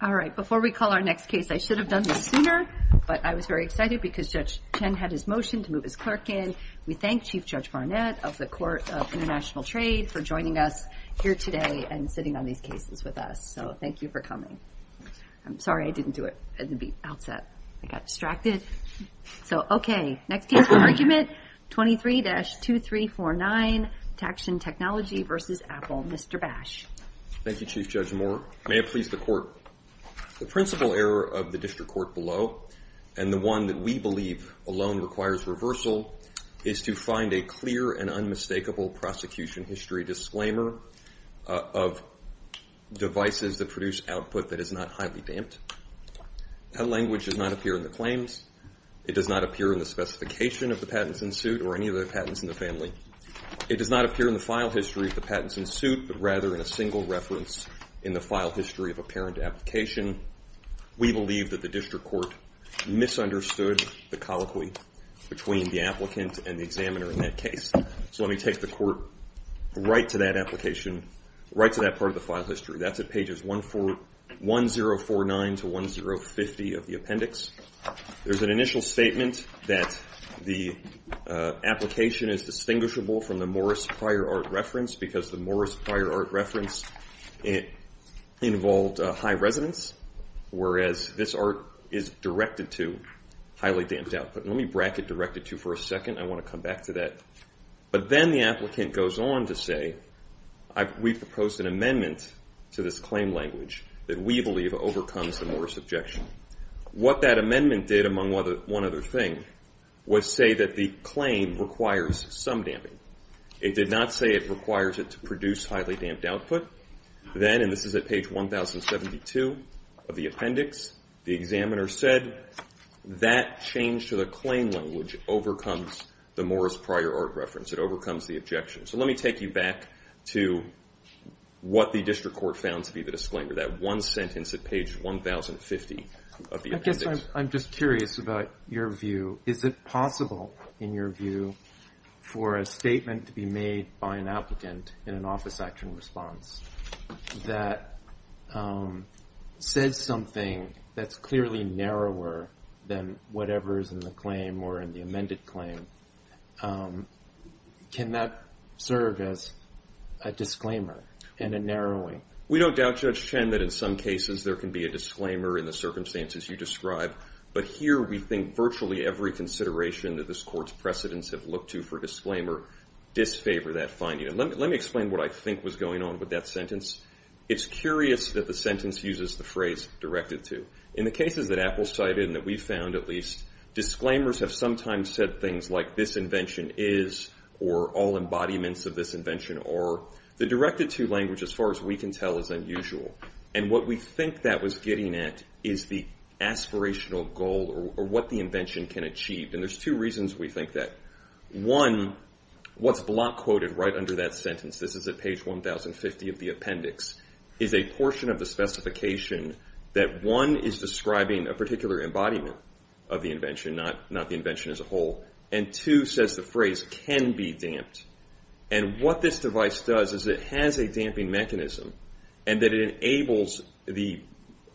All right, before we call our next case, I should have done this sooner, but I was very excited because Judge Chen had his motion to move his clerk in. We thank Chief Judge Barnett of the Court of International Trade for joining us here today and sitting on these cases with us. So, thank you for coming. I'm sorry I didn't do it at the outset. I got distracted. So, okay, next case for argument, 23-2349, Taction Technology v. Apple. Mr. Bash. Thank you, Chief Judge Moore. May it please the Court. The principal error of the district court below and the one that we believe alone requires reversal is to find a clear and unmistakable prosecution history disclaimer of devices that produce output that is not highly damped. That language does not appear in the claims. It does not appear in the specification of the patents in suit or any of the patents in the family. It does not appear in the file history of the patents in suit, but rather in a single reference in the file history of a parent application. We believe that the district court misunderstood the colloquy between the applicant and the examiner in that case. So, let me take the court right to that application, right to that part of the file history. That's at pages 1049 to 1050 of the appendix. There's an initial statement that the application is distinguishable from the Morris prior art reference because the Morris prior art reference involved high resonance, whereas this art is directed to highly damped output. Let me bracket directed to for a second. I want to come back to that. But then the applicant goes on to say, we've proposed an amendment to this claim language that we believe overcomes the Morris objection. What that amendment did, among one other thing, was say that the claim requires some damping. It did not say it requires it to produce highly damped output. Then, and this is at page 1072 of the appendix, the examiner said that change to the claim language overcomes the Morris prior art reference. It overcomes the objection. So, let me take you back to what the district court found to be the disclaimer. That one sentence at page 1050 of the appendix. I'm just curious about your view. Is it possible, in your view, for a statement to be made by an applicant in an office action response that says something that's clearly narrower than whatever is in the claim or in the amended claim? Can that serve as a disclaimer and a narrowing? We don't doubt, Judge Chen, that in some cases there can be a disclaimer in the circumstances you describe. But here we think virtually every consideration that this court's precedents have looked to for disclaimer disfavor that finding. Let me explain what I think was going on with that sentence. It's curious that the sentence uses the phrase directed to. In the cases that Apple cited and that we found, at least, disclaimers have sometimes said things like this invention is, or all embodiments of this invention are. The directed to language, as far as we can tell, is unusual. And what we think that was getting at is the aspirational goal or what the invention can achieve. And there's two reasons we think that. One, what's block quoted right under that sentence, this is at page 1050 of the appendix, is a portion of the specification that one is describing a particular embodiment of the invention, not the invention as a whole. And two says the phrase can be damped. And what this device does is it has a damping mechanism and that it enables the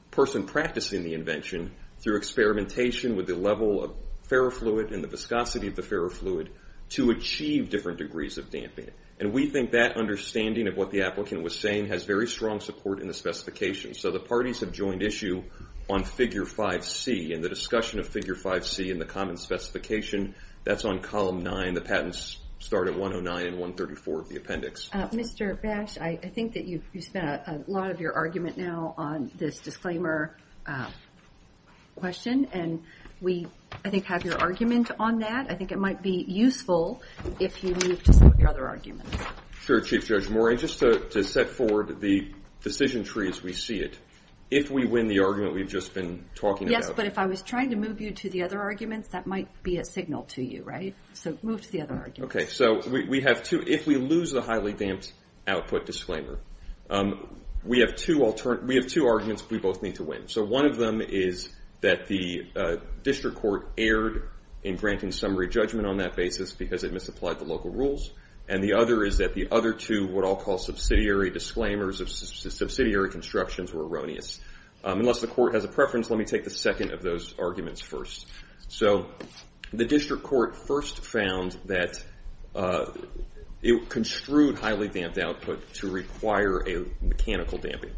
person practicing the invention through experimentation with the level of ferrofluid and the viscosity of the ferrofluid to achieve different degrees of damping. And we think that understanding of what the applicant was saying has very strong support in the specification. So the parties have joined issue on figure 5C and the discussion of figure 5C in the common specification, that's on column nine. The patents start at 109 and 134 of the appendix. Mr. Bash, I think that you've spent a lot of your argument now on this disclaimer question and we, I think, have your argument on that. I think it might be useful if you move to some of your other arguments. Sure, Chief Judge Moray. Just to set forward the decision tree as we see it, if we win the argument we've just been talking about. Yes, but if I was trying to move you to the other arguments, that might be a signal to you, right? So move to the other arguments. Okay, so we have two. If we lose the highly damped output disclaimer, we have two arguments we both need to win. So one of them is that the district court erred in granting summary judgment on that basis because it misapplied the local rules. And the other is that the other two, what I'll call subsidiary disclaimers of subsidiary constructions were erroneous. Unless the court has a preference, let me take the second of those arguments first. So the district court first found that it construed highly damped output to require a mechanical damping.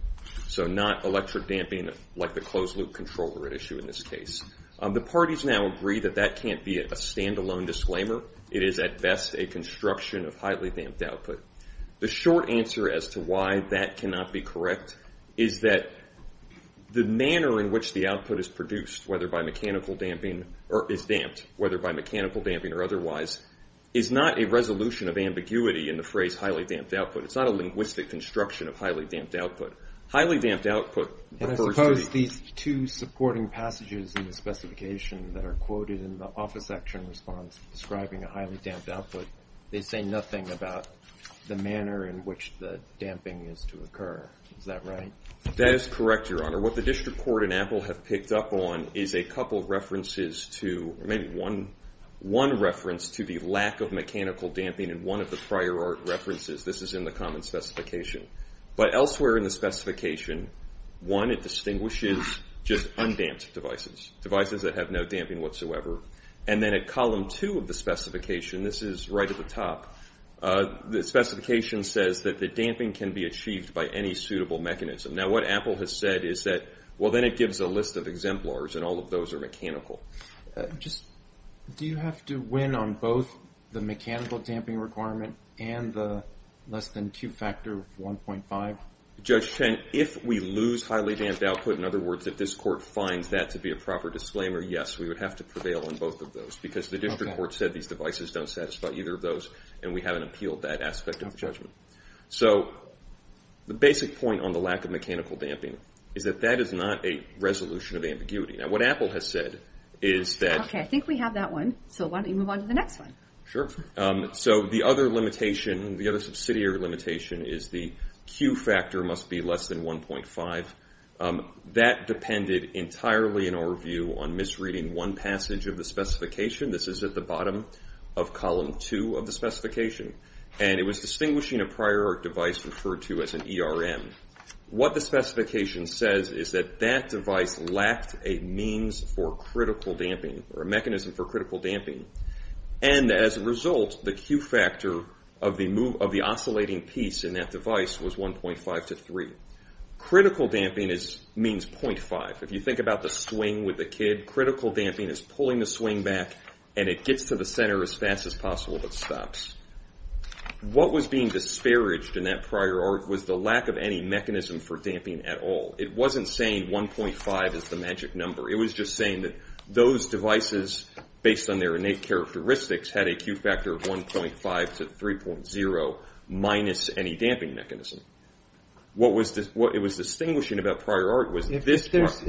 So not electric damping like the closed loop controller at issue in this case. The parties now agree that that can't be a standalone disclaimer. It is at best a construction of highly damped output. The short answer as to why that cannot be correct is that the manner in which the output is produced, whether by mechanical damping or is damped, whether by mechanical damping or otherwise, is not a resolution of ambiguity in the phrase highly damped output. It's not a linguistic construction of highly damped output. Highly damped output refers to the- And I suppose these two supporting passages in the specification that are quoted in the office section response describing a highly damped output, they say nothing about the manner in which the damping is to occur. Is that right? That is correct, Your Honor. What the district court and Apple have picked up on is a couple of references to, or maybe one reference to the lack of mechanical damping in one of the prior art references. This is in the common specification. But elsewhere in the specification, one, it distinguishes just undamped devices, devices that have no damping whatsoever. And then at column two of the specification, this is right at the top, the specification says that the damping can be achieved by any suitable mechanism. Now, what Apple has said is that, well, then it gives a list of exemplars and all of those are mechanical. Do you have to win on both the mechanical damping requirement and the less than two factor of 1.5? Judge Chen, if we lose highly damped output, in other words, if this court finds that to be a proper disclaimer, yes, we would have to prevail on both of those because the district court said these devices don't satisfy either of those and we haven't appealed that aspect of judgment. So the basic point on the lack of mechanical damping is that that is not a resolution of ambiguity. Now, what Apple has said is that... Okay, I think we have that one. So why don't you move on to the next one? Sure. So the other limitation, the other subsidiary limitation is the Q factor must be less than 1.5. That depended entirely in our view on misreading one passage of the specification. This is at the bottom of column two of the specification and it was distinguishing a prior art device referred to as an ERM. What the specification says is that that device lacked a means for critical damping or a mechanism for critical damping. And as a result, the Q factor of the oscillating piece in that device was 1.5 to three. Critical damping means 0.5. If you think about the swing with the kid, critical damping is pulling the swing back and it gets to the center as fast as possible but stops. What was being disparaged in that prior art was the lack of any mechanism for damping at all. It wasn't saying 1.5 is the magic number. It was just saying that those devices based on their innate characteristics had a Q factor of 1.5 to 3.0 minus any damping mechanism. It was distinguishing about prior art was this part.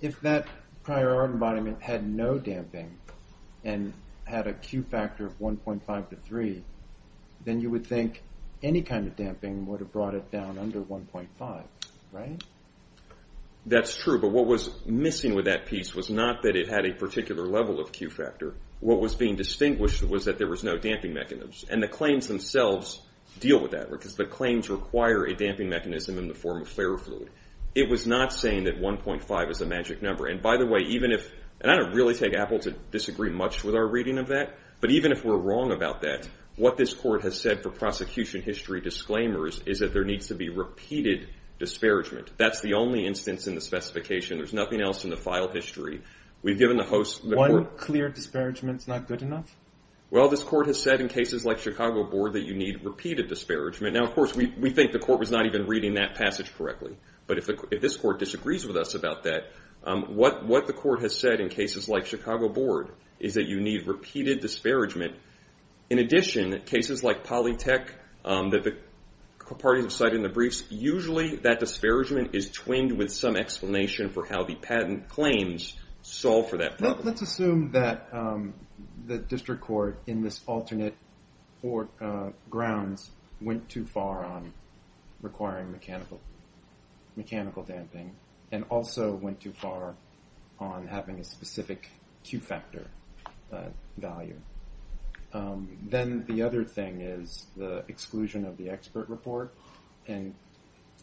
If that prior art embodiment had no damping and had a Q factor of 1.5 to three, then you would think any kind of damping would have brought it down under 1.5, right? That's true. But what was missing with that piece was not that it had a particular level of Q factor. What was being distinguished was that there was no damping mechanism. And the claims themselves deal with that because the claims require a damping mechanism in the form of flare fluid. It was not saying that 1.5 is the magic number. And by the way, even if... And I don't really take Apple to disagree much with our reading of that. But even if we're wrong about that, what this court has said for prosecution history disclaimers is that there needs to be repeated disparagement. That's the only instance in the specification. There's nothing else in the file history. We've given the host... One clear disparagement is not good enough? Well, this court has said in cases like Chicago Board that you need repeated disparagement. Now, of course, we think the court was not even reading that passage correctly. But if this court disagrees with us about that, what the court has said in cases like Chicago Board is that you need repeated disparagement. In addition, cases like Polytech that the parties have cited in the briefs, usually that disparagement is twinned with some explanation for how the patent claims solve for that problem. But let's assume that the district court in this alternate court grounds went too far on requiring mechanical damping and also went too far on having a specific Q factor value. Then the other thing is the exclusion of the expert report. And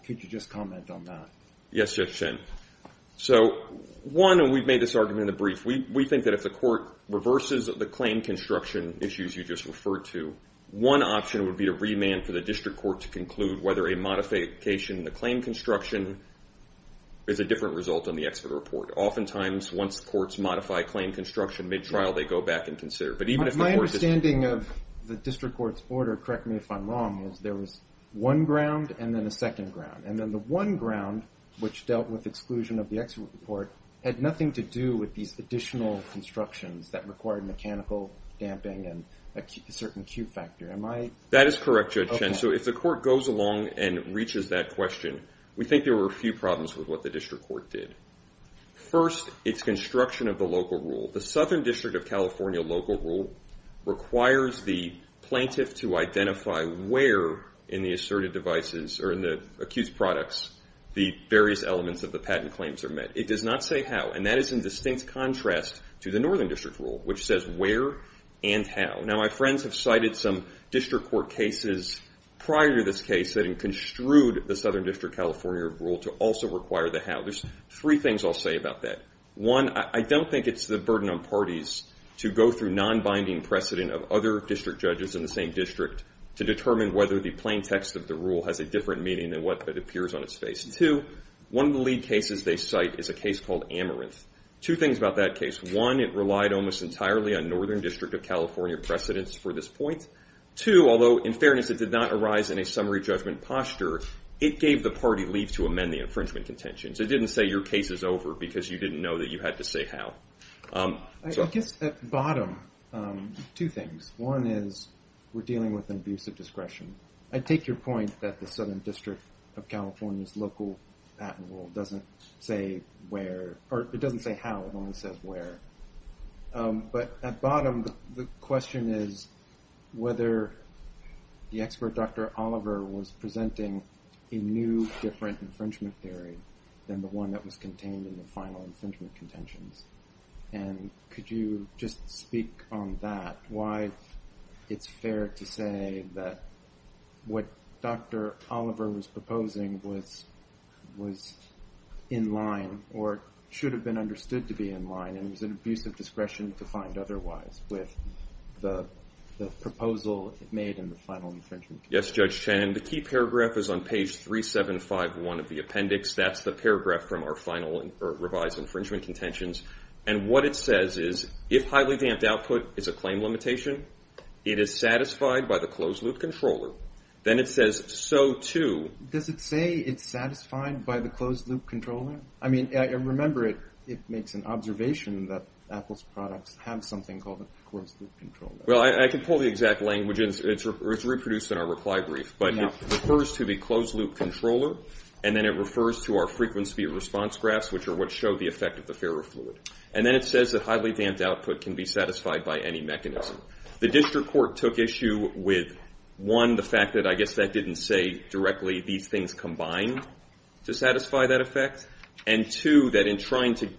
could you just comment on that? Yes, Judge Shen. So one, and we've made this argument in the brief, we think that if the court reverses the claim construction issues you just referred to, one option would be to remand for the district court to conclude whether a modification in the claim construction is a different result than the expert report. Oftentimes, once courts modify claim construction mid-trial, they go back and consider. But even if the court... My understanding of the district court's order, correct me if I'm wrong, is there was one ground and then a second ground. And then the one ground, which dealt with exclusion of the expert report, had nothing to do with these additional constructions that required mechanical damping and a certain Q factor. Am I... That is correct, Judge Shen. So if the court goes along and reaches that question, we think there were a few problems with what the district court did. First, it's construction of the local rule. The Southern District of California local rule requires the plaintiff to identify where in the asserted devices or in the accused products the various elements of the patent claims are met. It does not say how. And that is in distinct contrast to the Northern District rule, which says where and how. Now, my friends have cited some district court cases prior to this case that construed the Southern District of California rule to also require the how. There's three things I'll say about that. One, I don't think it's the burden on parties to go through non-binding precedent of other district judges in the same district to determine whether the plain text of the rule has a different meaning than what it appears on its face. Two, one of the lead cases they cite is a case called Amaranth. Two things about that case. One, it relied almost entirely on Northern District of California precedents for this point. Two, although in fairness, it did not arise in a summary judgment posture, it gave the party leave to amend the infringement contentions. It didn't say your case is over because you didn't know that you had to say how. I guess at the bottom, two things. One is we're dealing with an abuse of discretion. I take your point that the Southern District of California's local patent rule doesn't say where, or it doesn't say how, it only says where. But at bottom, the question is whether the expert Dr. Oliver was presenting a new different infringement theory than the one that was contained in the final infringement contentions. And could you just speak on that? Why it's fair to say that what Dr. Oliver was proposing was in line, or should have been understood to be in line, and it was an abuse of discretion to find otherwise with the proposal it made in the final infringement. Yes, Judge Chen. The key paragraph is on page 3751 of the appendix. That's the paragraph from our final revised infringement contentions. And what it says is, if highly damped output is a claim limitation, it is satisfied by the closed-loop controller. Then it says so too. Does it say it's satisfied by the closed-loop controller? I mean, remember, it makes an observation that Apple's products have something called a closed-loop controller. Well, I can pull the exact language in. It's reproduced in our reply brief. But it refers to the closed-loop controller, and then it refers to our frequency response graphs, which are what show the effect of the ferrofluid. And then it says that highly damped output can be satisfied by any mechanism. The district court took issue with, one, the fact that I guess that didn't say directly these things combined to satisfy that effect, and two, that in trying to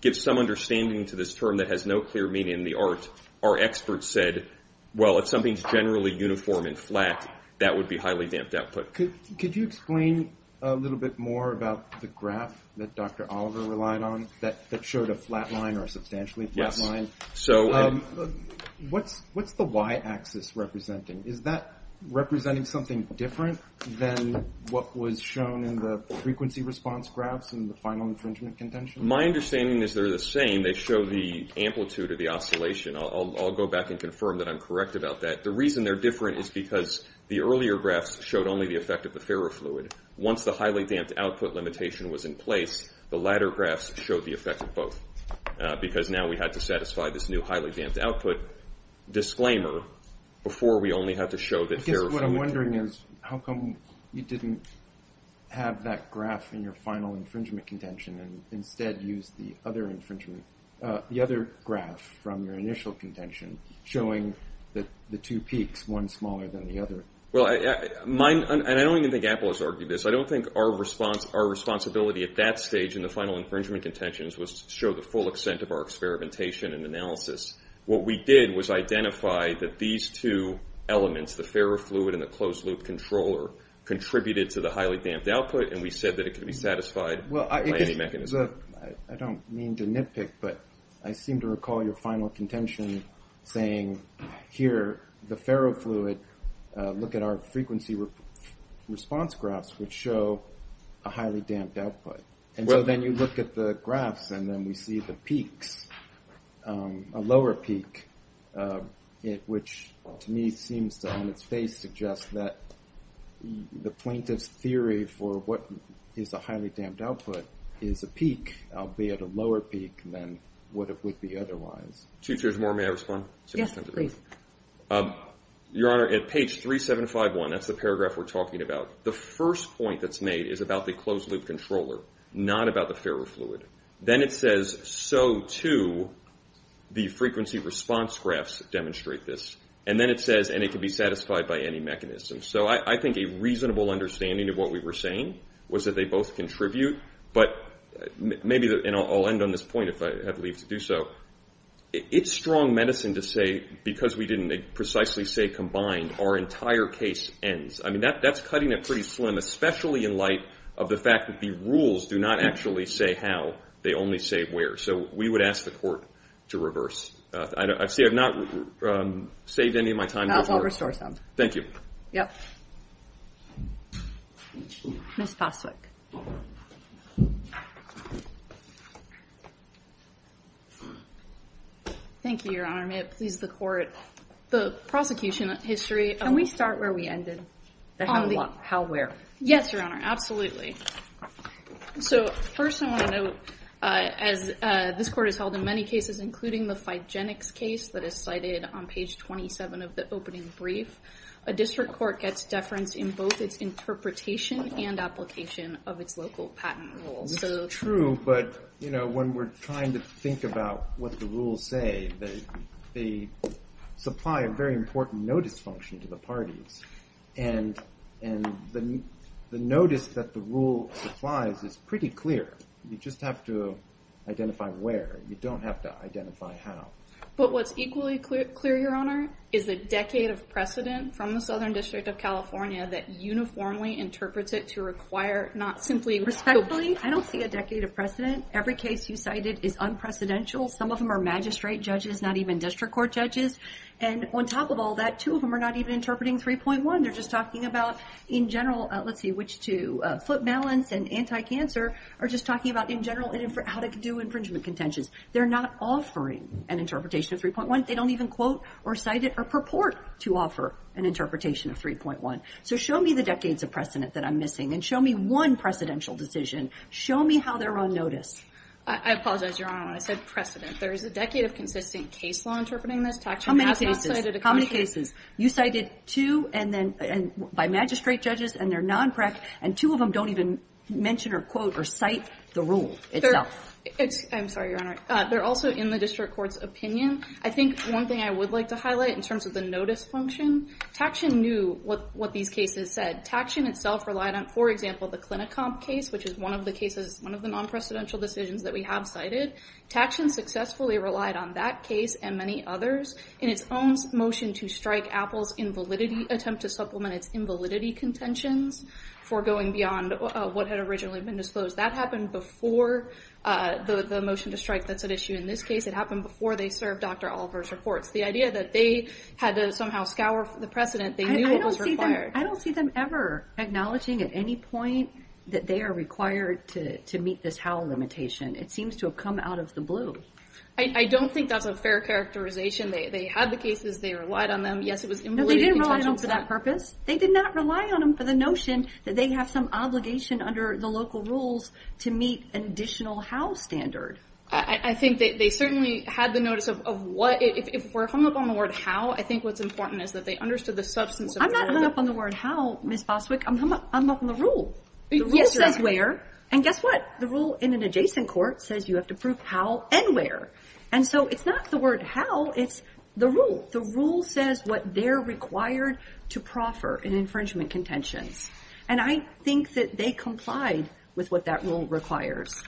give some understanding to this term that has no clear meaning in the art, our experts said, well, if something's generally uniform and flat, that would be highly damped output. Could you explain a little bit more about the graph that Dr. Oliver relied on that showed a flat line or a substantially flat line? So what's the y-axis representing? Is that representing something different than what was shown in the frequency response graphs in the final infringement contention? My understanding is they're the same. They show the amplitude of the oscillation. I'll go back and confirm that I'm correct about that. The reason they're different is because the earlier graphs showed only the effect of the ferrofluid. Once the highly damped output limitation was in place, the latter graphs showed the effect of both, because now we had to satisfy this new highly damped output disclaimer before we only had to show that ferrofluid. I guess what I'm wondering is how come you didn't have that graph in your final infringement contention and instead used the other infringement, the other graph from your initial contention, showing that the two peaks, one smaller than the other? Well, I don't even think Apple has argued this. I don't think our response, our responsibility at that stage in the final infringement contentions was to show the full extent of our experimentation and analysis. What we did was identify that these two elements, the ferrofluid and the closed loop controller, contributed to the highly damped output and we said that it could be satisfied by any mechanism. I don't mean to nitpick, but I seem to recall your final contention saying, here, the ferrofluid, look at our frequency response graphs, which show a highly damped output. And so then you look at the graphs and then we see the peaks, a lower peak, which to me seems to, on its face, suggest that the plaintiff's theory for what is a highly damped output is a peak, albeit a lower peak than what it would be otherwise. Chief, there's more. May I respond? Yes, please. Your Honor, at page 3751, that's the paragraph we're talking about, the first point that's made is about the closed loop controller, not about the ferrofluid. Then it says, so too, the frequency response graphs demonstrate this. And then it says, and it could be satisfied by any mechanism. So I think a reasonable understanding of what we were saying was that they both contribute, but maybe, and I'll end on this point if I have leave to do so, it's strong medicine to say, because we didn't precisely say combined, our entire case ends. That's cutting it pretty slim, especially in light of the fact that the rules do not actually say how, they only say where. So we would ask the court to reverse. I see I've not saved any of my time. No, I'll restore some. Thank you. Yep. Ms. Postwick. Thank you, Your Honor. May it please the court, the prosecution history. Can we start where we ended? How, where? Yes, Your Honor, absolutely. So first I want to note, as this court has held in many cases, including the Figenics case that is cited on page 27 of the opening brief, a district court gets deference in both its interpretation and application of its local patent rules. That's true, but when we're trying to think about what the rules say, they supply a very important notice function to the parties. And the notice that the rule supplies is pretty clear. You just have to identify where. You don't have to identify how. But what's equally clear, Your Honor, is a decade of precedent from the Southern District of California that uniformly interprets it to require not simply respectfully. I don't see a decade of precedent. Every case you cited is unprecedented. Some of them are magistrate judges, not even district court judges. And on top of all that, two of them are not even interpreting 3.1. They're just talking about, in general, let's see, foot balance and anti-cancer are just talking about, in general, how to do infringement contentions. They're not offering an interpretation of 3.1. They don't even quote or cite it or purport to offer an interpretation of 3.1. So show me the decades of precedent that I'm missing. And show me one precedential decision. Show me how they're on notice. I apologize, Your Honor. I said precedent. There is a decade of consistent case law interpreting this. How many cases? How many cases? You cited two by magistrate judges, and they're non-prec, and two of them don't even mention or quote or cite the rule itself. I'm sorry, Your Honor. They're also in the district court's opinion. I think one thing I would like to highlight in terms of the notice function, Taxon knew what these cases said. Taxon itself relied on, for example, the Clinicomp case, which is one of the cases, one of the non-precedential decisions that we have cited. Taxon successfully relied on that case and many others in its own motion to strike Apple's invalidity, attempt to supplement its invalidity contentions for going beyond what had originally been disclosed. That happened before the motion to strike that's at issue in this case. It happened before they served Dr. Oliver's reports. The idea that they had to somehow scour the precedent, they knew it was required. I don't see them ever acknowledging at any point that they are required to meet this how limitation. It seems to have come out of the blue. I don't think that's a fair characterization. They had the cases. They relied on them. Yes, it was invalidity contentions. No, they didn't rely on them for that purpose. They did not rely on them for the notion that they have some obligation under the local rules to meet an additional how standard. I think that they certainly had the notice of what, if we're hung up on the word how, I think what's important is that they understood the substance of it. I'm not hung up on the word how, Ms. Boswick. I'm hung up on the rule. The rule says where, and guess what? The rule in an adjacent court says you have to prove how and where, and so it's not the word how. It's the rule. The rule says what they're required to proffer in infringement contentions, and I think that they complied with what that rule requires.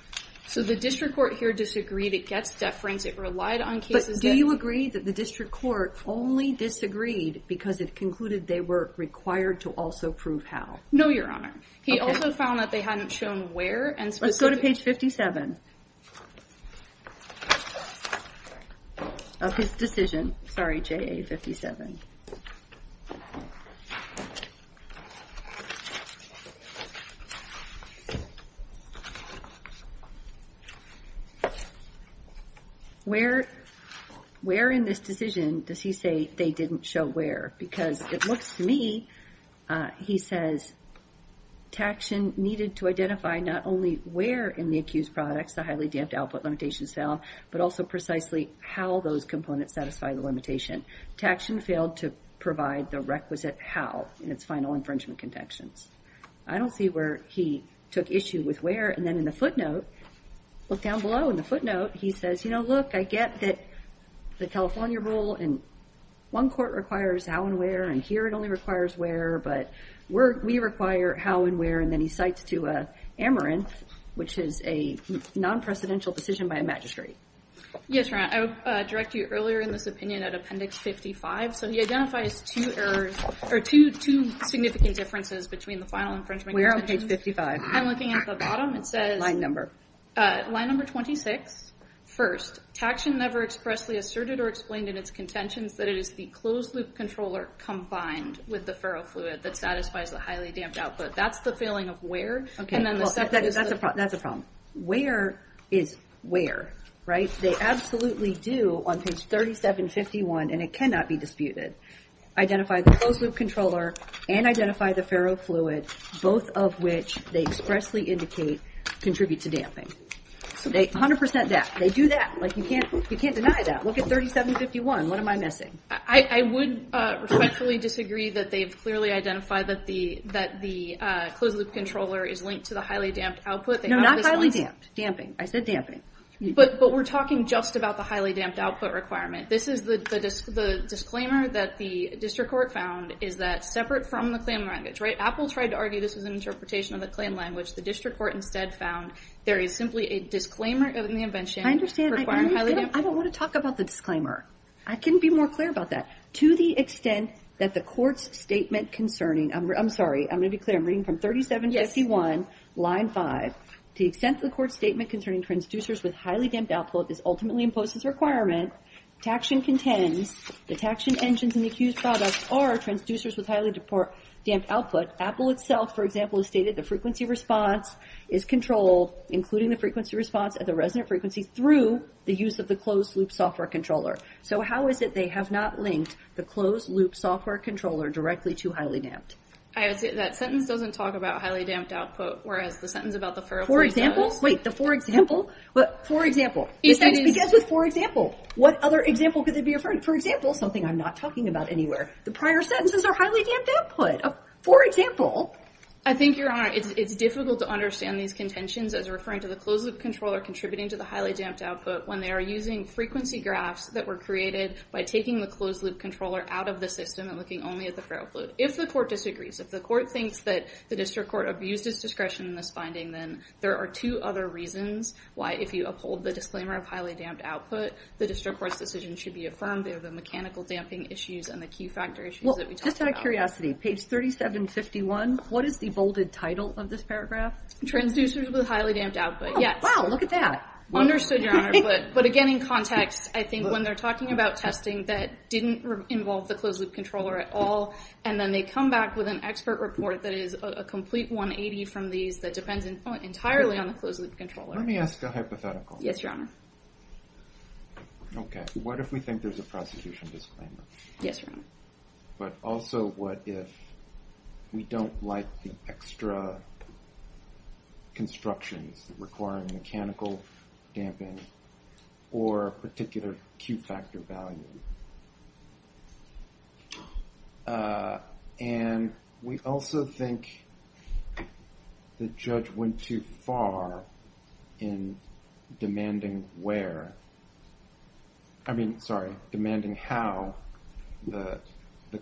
So the district court here disagreed. It gets deference. It relied on cases that- But do you agree that the district court only disagreed because it concluded they were required to also prove how? No, Your Honor. He also found that they hadn't shown where, and specifically- Let's go to page 57. ...of his decision. Sorry, JA57. Where in this decision does he say they didn't show where? Because it looks to me, he says, taction needed to identify not only where in the accused products, the highly damped output limitations fell, but also precisely how those components satisfy the limitation. Taction failed to provide the requisite how in its final infringement contentions. I don't see where he took issue with where, and then in the footnote, look down below in the footnote, he says, you know, look, I get that the California rule in one court requires how and where, and here it only requires where, but we require how and where, and then he cites to Ameren, which is a non-precedential decision by a magistrate. Yes, Your Honor. I would direct you earlier in this opinion at appendix 55, so he identifies two errors, or two significant differences between the final infringement- Where on page 55? I'm looking at the bottom. It says- Line number. Line number 26. First, taction never expressly asserted or explained in its contentions that it is the closed-loop controller combined with the ferrofluid that satisfies the highly damped output. That's the failing of where, and then the second is- That's a problem. Where is where, right? They absolutely do on page 3751, and it cannot be disputed, identify the closed-loop controller and identify the ferrofluid, both of which they expressly indicate contribute to damping. 100% that. They do that. Like, you can't deny that. Look at 3751. What am I missing? I would respectfully disagree that they've clearly identified that the closed-loop controller is linked to the highly damped output. No, not highly damped. Damping. I said damping. But we're talking just about the highly damped output requirement. This is the disclaimer that the district court found is that separate from the claim language, right? Apple tried to argue this was an interpretation of the claim language. The district court instead found there is simply a disclaimer of the invention requiring highly damped- I don't want to talk about the disclaimer. I can be more clear about that. To the extent that the court's statement concerning- I'm sorry. I'm going to be clear. I'm reading from 3751, line 5. To the extent the court's statement concerning transducers with highly damped output is ultimately imposed as a requirement, taxon contends the taxon engines and the accused products are transducers with highly damped output. Apple itself, for example, has stated the frequency response is controlled, including the frequency response at the resident frequency through the use of the closed-loop software controller. So how is it they have not linked the closed-loop software controller directly to highly damped? I would say that sentence doesn't talk about highly damped output, whereas the sentence about the furlough- For example? Wait, the for example? What for example? The sentence begins with for example. What other example could there be referring? For example, something I'm not talking about anywhere. The prior sentences are highly damped output. For example. I think, Your Honor, it's difficult to understand these contentions as referring to the closed-loop controller contributing to the highly damped output when they are using frequency graphs that were created by taking the closed-loop controller out of the system and looking only at the furlough. If the court disagrees, if the court thinks that the district court abused its discretion in this finding, then there are two other reasons why if you uphold the disclaimer of highly damped output, the district court's decision should be affirmed. They are the mechanical damping issues and the key factor issues that we talked about. Just out of curiosity, page 3751, what is the bolded title of this paragraph? Transducers with highly damped output. Yes. Wow, look at that. Understood, Your Honor. But again, in context, I think when they're talking about testing that didn't involve the closed-loop controller at all, and then they come back with an expert report that is a complete 180 from these that depends entirely on the closed-loop controller. Let me ask a hypothetical. Yes, Your Honor. Okay, what if we think there's a prosecution disclaimer? Yes, Your Honor. But also, what if we don't like the extra constructions requiring mechanical damping or a particular Q factor value? Yes, Your Honor. And we also think the judge went too far in demanding where, I mean, sorry, demanding how the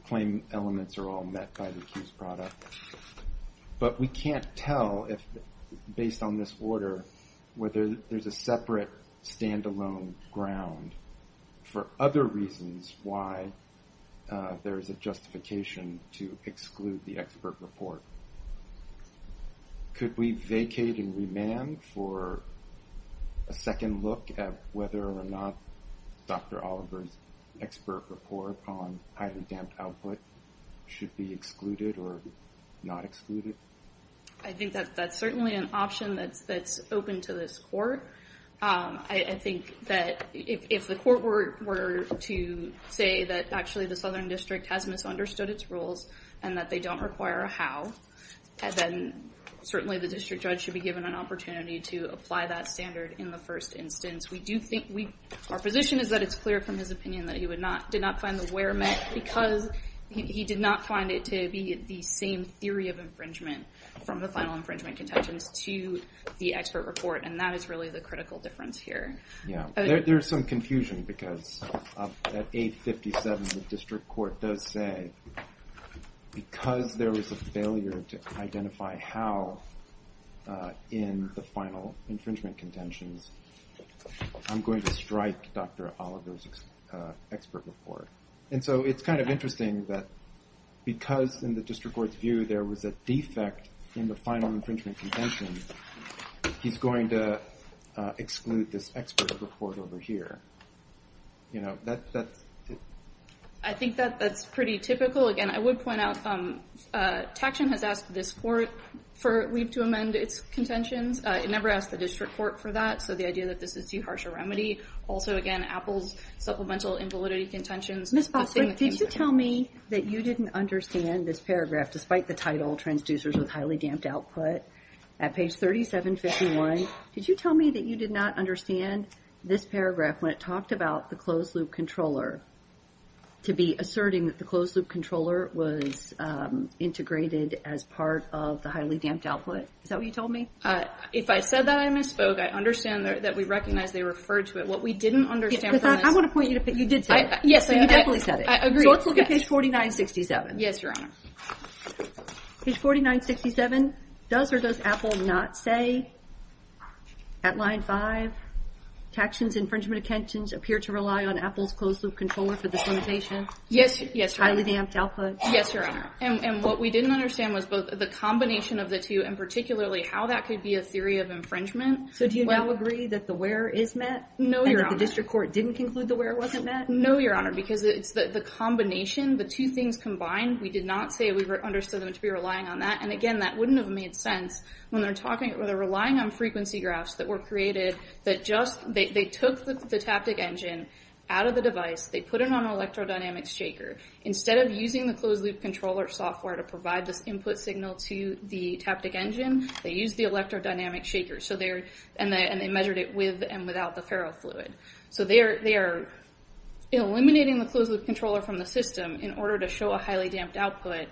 claim elements are all met by the accused product. But we can't tell if, based on this order, whether there's a separate standalone ground for other reasons why there is a justification to exclude the expert report. Could we vacate and remand for a second look at whether or not Dr. Oliver's expert report on highly damped output should be excluded or not excluded? I think that's certainly an option that's open to this court. I think that if the court were to say that actually the Southern District has misunderstood its rules and that they don't require a how, then certainly the district judge should be given an opportunity to apply that standard in the first instance. Our position is that it's clear from his opinion that he did not find the where met because he did not find it to be the same theory of infringement from the final infringement contentions to the expert report. And that is really the critical difference here. Yeah, there's some confusion because at 857, the district court does say because there was a failure to identify how in the final infringement contentions, I'm going to strike Dr. Oliver's expert report. And so it's kind of interesting that because in the district court's view there was a defect in the final infringement contentions, he's going to exclude this expert report over here. I think that that's pretty typical. Again, I would point out Taxon has asked this court for leave to amend its contentions. It never asked the district court for that. So the idea that this is too harsh a remedy. Also again, Apple's supplemental invalidity contentions. Ms. Bossert, did you tell me that you didn't understand this paragraph despite the title, transducers with highly damped output at page 3751? Did you tell me that you did not understand this paragraph when it talked about the closed loop controller to be asserting that the closed loop controller was integrated as part of the highly damped output? Is that what you told me? If I said that, I misspoke. I understand that we recognize they referred to it. What we didn't understand. I want to point you to, you did say it. Yes, I definitely said it. I agree. Let's look at page 4967. Yes, Your Honor. Page 4967. Does or does Apple not say at line 5, taxation's infringement intentions appear to rely on Apple's closed loop controller for this limitation? Yes, Your Honor. Highly damped output. Yes, Your Honor. And what we didn't understand was both the combination of the two and particularly how that could be a theory of infringement. So do you now agree that the where is met? No, Your Honor. The district court didn't conclude the where wasn't met? No, Your Honor. Because it's the combination, the two things combined. We did not say we understood them to be relying on that. And again, that wouldn't have made sense when they're relying on frequency graphs that were created, that just, they took the Taptic engine out of the device. They put it on an electrodynamics shaker. Instead of using the closed loop controller software to provide this input signal to the Taptic engine, they used the electrodynamics shaker. And they measured it with and without the ferrofluid. So they are eliminating the closed loop controller from the system in order to show a highly damped output.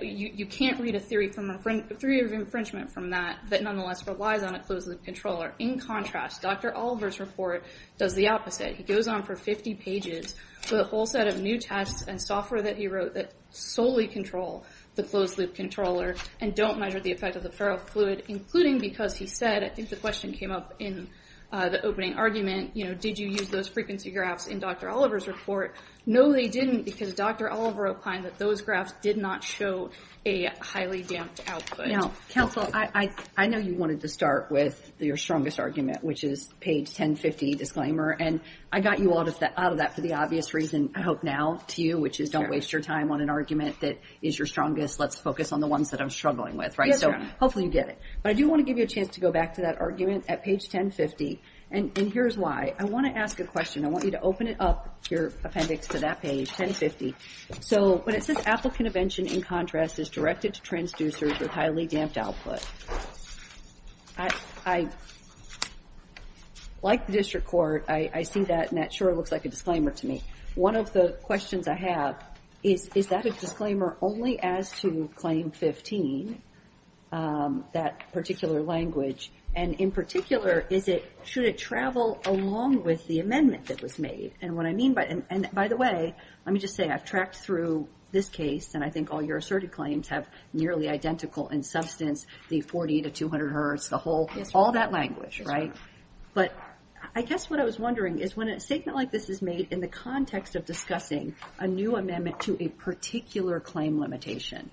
You can't read a theory from a theory of infringement from that that nonetheless relies on a closed loop controller. In contrast, Dr. Oliver's report does the opposite. He goes on for 50 pages with a whole set of new texts and software that he wrote that solely control the closed loop controller and don't measure the effect of the ferrofluid, including because he said, I think the question came up in the opening argument, did you use those frequency graphs in Dr. Oliver's report? No, they didn't. Because Dr. Oliver opined that those graphs did not show a highly damped output. Now, counsel, I know you wanted to start with your strongest argument, which is page 1050, disclaimer. And I got you out of that for the obvious reason, I hope now to you, which is don't waste your time on an argument that is your strongest. Let's focus on the ones that I'm struggling with, right? So hopefully you get it. But I do want to give you a chance to go back to that argument at page 1050. And here's why. I want to ask a question. I want you to open it up, your appendix to that page. So when it says applicant invention in contrast is directed to transducers with highly damped output. I like the district court. I see that. And that sure looks like a disclaimer to me. One of the questions I have is, is that a disclaimer only as to claim 15, that particular language? And in particular, is it, should it travel along with the amendment that was made? And what I mean by, and by the way, let me just say, I've tracked through this case. And I think all your asserted claims have nearly identical in substance, the 40 to 200 hertz, the whole, all that language, right? But I guess what I was wondering is when a statement like this is made in the context of discussing a new amendment to a particular claim limitation,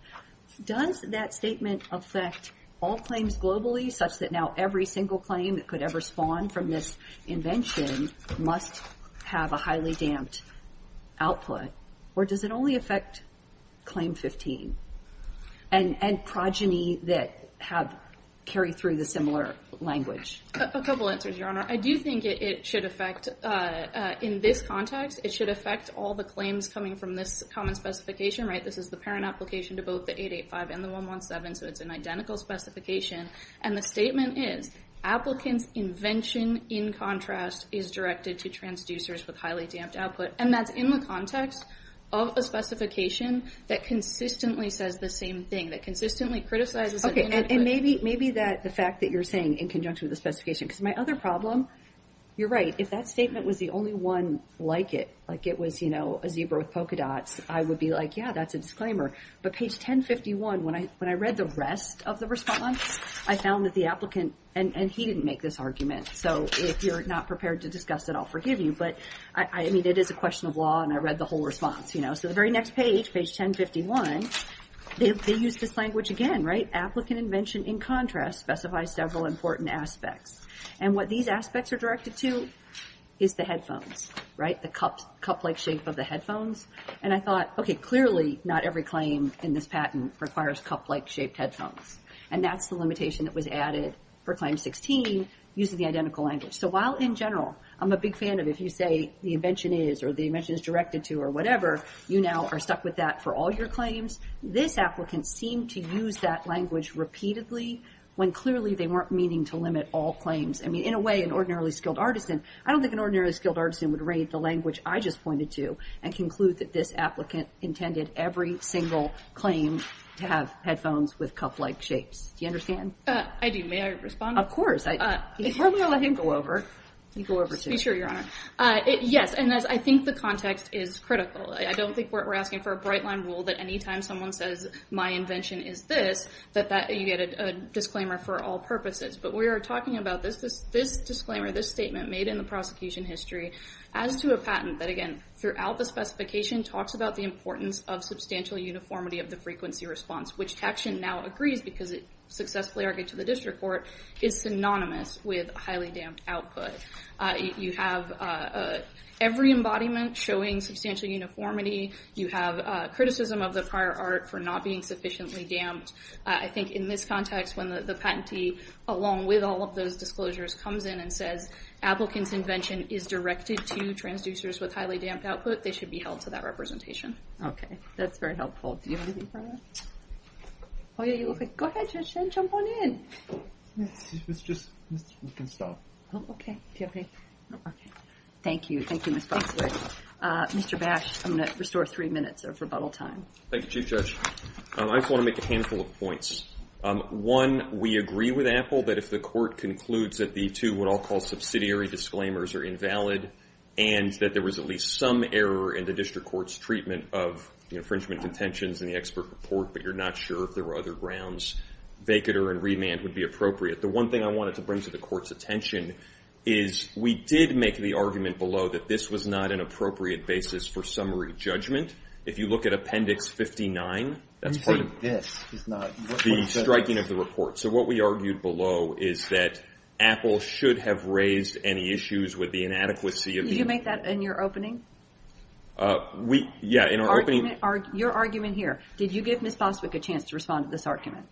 does that statement affect all claims globally such that now every single claim that could ever spawn from this invention must have a highly damped output? Or does it only affect claim 15? And progeny that have carried through the similar language? A couple answers, Your Honor. I do think it should affect, in this context, it should affect all the claims coming from this common specification, right? This is the parent application to both the 885 and the 117. So it's an identical specification. And the statement is, applicant's invention in contrast is directed to transducers with highly damped output. And that's in the context of a specification that consistently says the same thing, that consistently criticizes- Okay. And maybe that, the fact that you're saying in conjunction with the specification, because my other problem, you're right. If that statement was the only one like it, like it was a zebra with polka dots, I would be like, yeah, that's a disclaimer. But page 1051, when I read the rest of the response, I found that the applicant, and he didn't make this argument. So if you're not prepared to discuss it, I'll forgive you. I mean, it is a question of law and I read the whole response. So the very next page, page 1051, they use this language again, right? Applicant invention in contrast specifies several important aspects. And what these aspects are directed to is the headphones, right? The cup-like shape of the headphones. And I thought, okay, clearly not every claim in this patent requires cup-like shaped headphones. And that's the limitation that was added for claim 16 using the identical language. So while in general, I'm a big fan of, if you say the invention is, or the invention is directed to, or whatever, you now are stuck with that for all your claims. This applicant seemed to use that language repeatedly when clearly they weren't meaning to limit all claims. I mean, in a way, an ordinarily skilled artisan, I don't think an ordinarily skilled artisan would read the language I just pointed to and conclude that this applicant intended every single claim to have headphones with cup-like shapes. Do you understand? Uh, I do. May I respond? Of course. Before we let him go over, you go over too. Be sure, Your Honor. Yes, and I think the context is critical. I don't think we're asking for a bright line rule that anytime someone says, my invention is this, that you get a disclaimer for all purposes. But we are talking about this, this disclaimer, this statement made in the prosecution history as to a patent that, again, throughout the specification talks about the importance of substantial uniformity of the frequency response, which Taction now agrees because it successfully argued to the district court is synonymous with highly damped output. You have every embodiment showing substantial uniformity. You have criticism of the prior art for not being sufficiently damped. I think in this context, when the patentee, along with all of those disclosures, comes in and says, applicant's invention is directed to transducers with highly damped output, they should be held to that representation. Okay, that's very helpful. Do you have anything further? Oh yeah, you look like, go ahead, just jump on in. If it's just, we can stop. Oh, okay. Thank you. Thank you, Ms. Foxwood. Mr. Bash, I'm going to restore three minutes of rebuttal time. Thank you, Chief Judge. I just want to make a handful of points. One, we agree with Apple that if the court concludes that the two, what I'll call, subsidiary disclaimers are invalid and that there was at least some error in the district court's treatment of the infringement contentions in the expert report, but you're not sure if there were other grounds, vacater and remand would be appropriate. The one thing I wanted to bring to the court's attention is we did make the argument below that this was not an appropriate basis for summary judgment. If you look at Appendix 59, that's part of the striking of the report. So what we argued below is that Apple should have raised any issues with the inadequacy of the- Did you make that in your opening? We, yeah, in our opening- Your argument here, did you give Ms. Foxwood a chance to respond to this argument?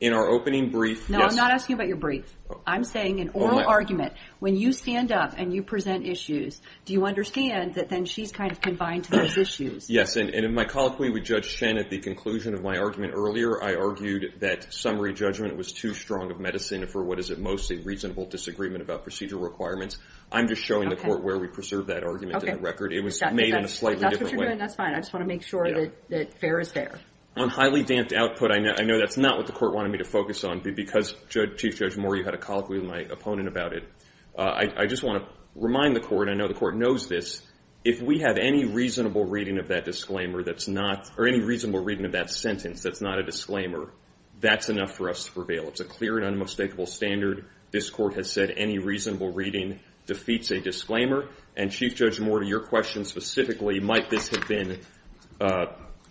In our opening brief- No, I'm not asking about your brief. I'm saying an oral argument. When you stand up and you present issues, do you understand that then she's kind of confined to those issues? Yes, and in my colloquy with Judge Shen at the conclusion of my argument earlier, I argued that summary judgment was too strong of medicine for what is at most a reasonable disagreement about procedure requirements. I'm just showing the court where we preserve that argument in the record. It was made in a slightly different way. That's fine. I just want to make sure that fair is fair. On highly damped output, I know that's not what the court wanted me to focus on because, Chief Judge Moore, you had a colloquy with my opponent about it. I just want to remind the court, I know the court knows this, if we have any reasonable reading of that disclaimer that's not- or any reasonable reading of that sentence that's not a disclaimer, that's enough for us to prevail. It's a clear and unmistakable standard. This court has said any reasonable reading defeats a disclaimer. And Chief Judge Moore, to your question specifically, might this have been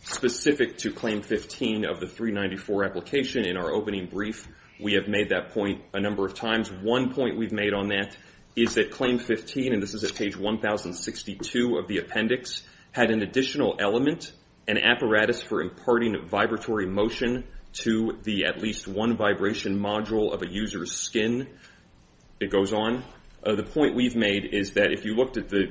specific to claim 15 of the 394 application in our opening brief? We have made that point a number of times. One point we've made on that is that claim 15, and this is at page 1062 of the appendix, had an additional element, an apparatus for imparting vibratory motion to the at least one vibration module of a user's skin. It goes on. The point we've made is that if you looked at the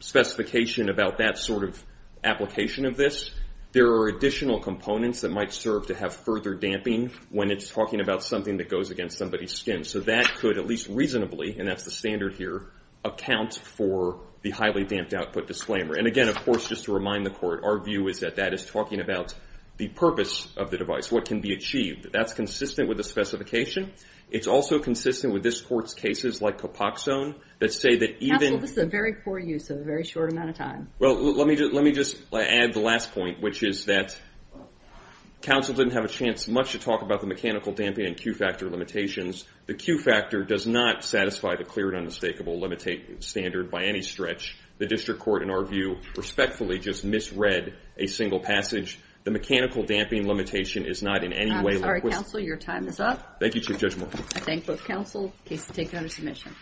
specification about that sort of application of this, there are additional components that might serve to have further damping when it's talking about something that goes against somebody's skin. So that could at least reasonably, and that's the standard here, account for the highly damped output disclaimer. And again, of course, just to remind the court, our view is that that is talking about the purpose of the device, what can be achieved. That's consistent with the specification. It's also consistent with this court's cases like Copaxone that say that even- Counsel, this is a very poor use of a very short amount of time. Well, let me just add the last point, which is that counsel didn't have a chance much to talk about the mechanical damping and Q factor limitations. The Q factor does not satisfy the clear and unmistakable limitation standard by any stretch. The district court, in our view, respectfully just misread a single passage. The mechanical damping limitation is not in any way- I'm sorry, counsel, your time is up. Thank you, Chief Judge Moore. I thank both counsel. Case is taken under submission.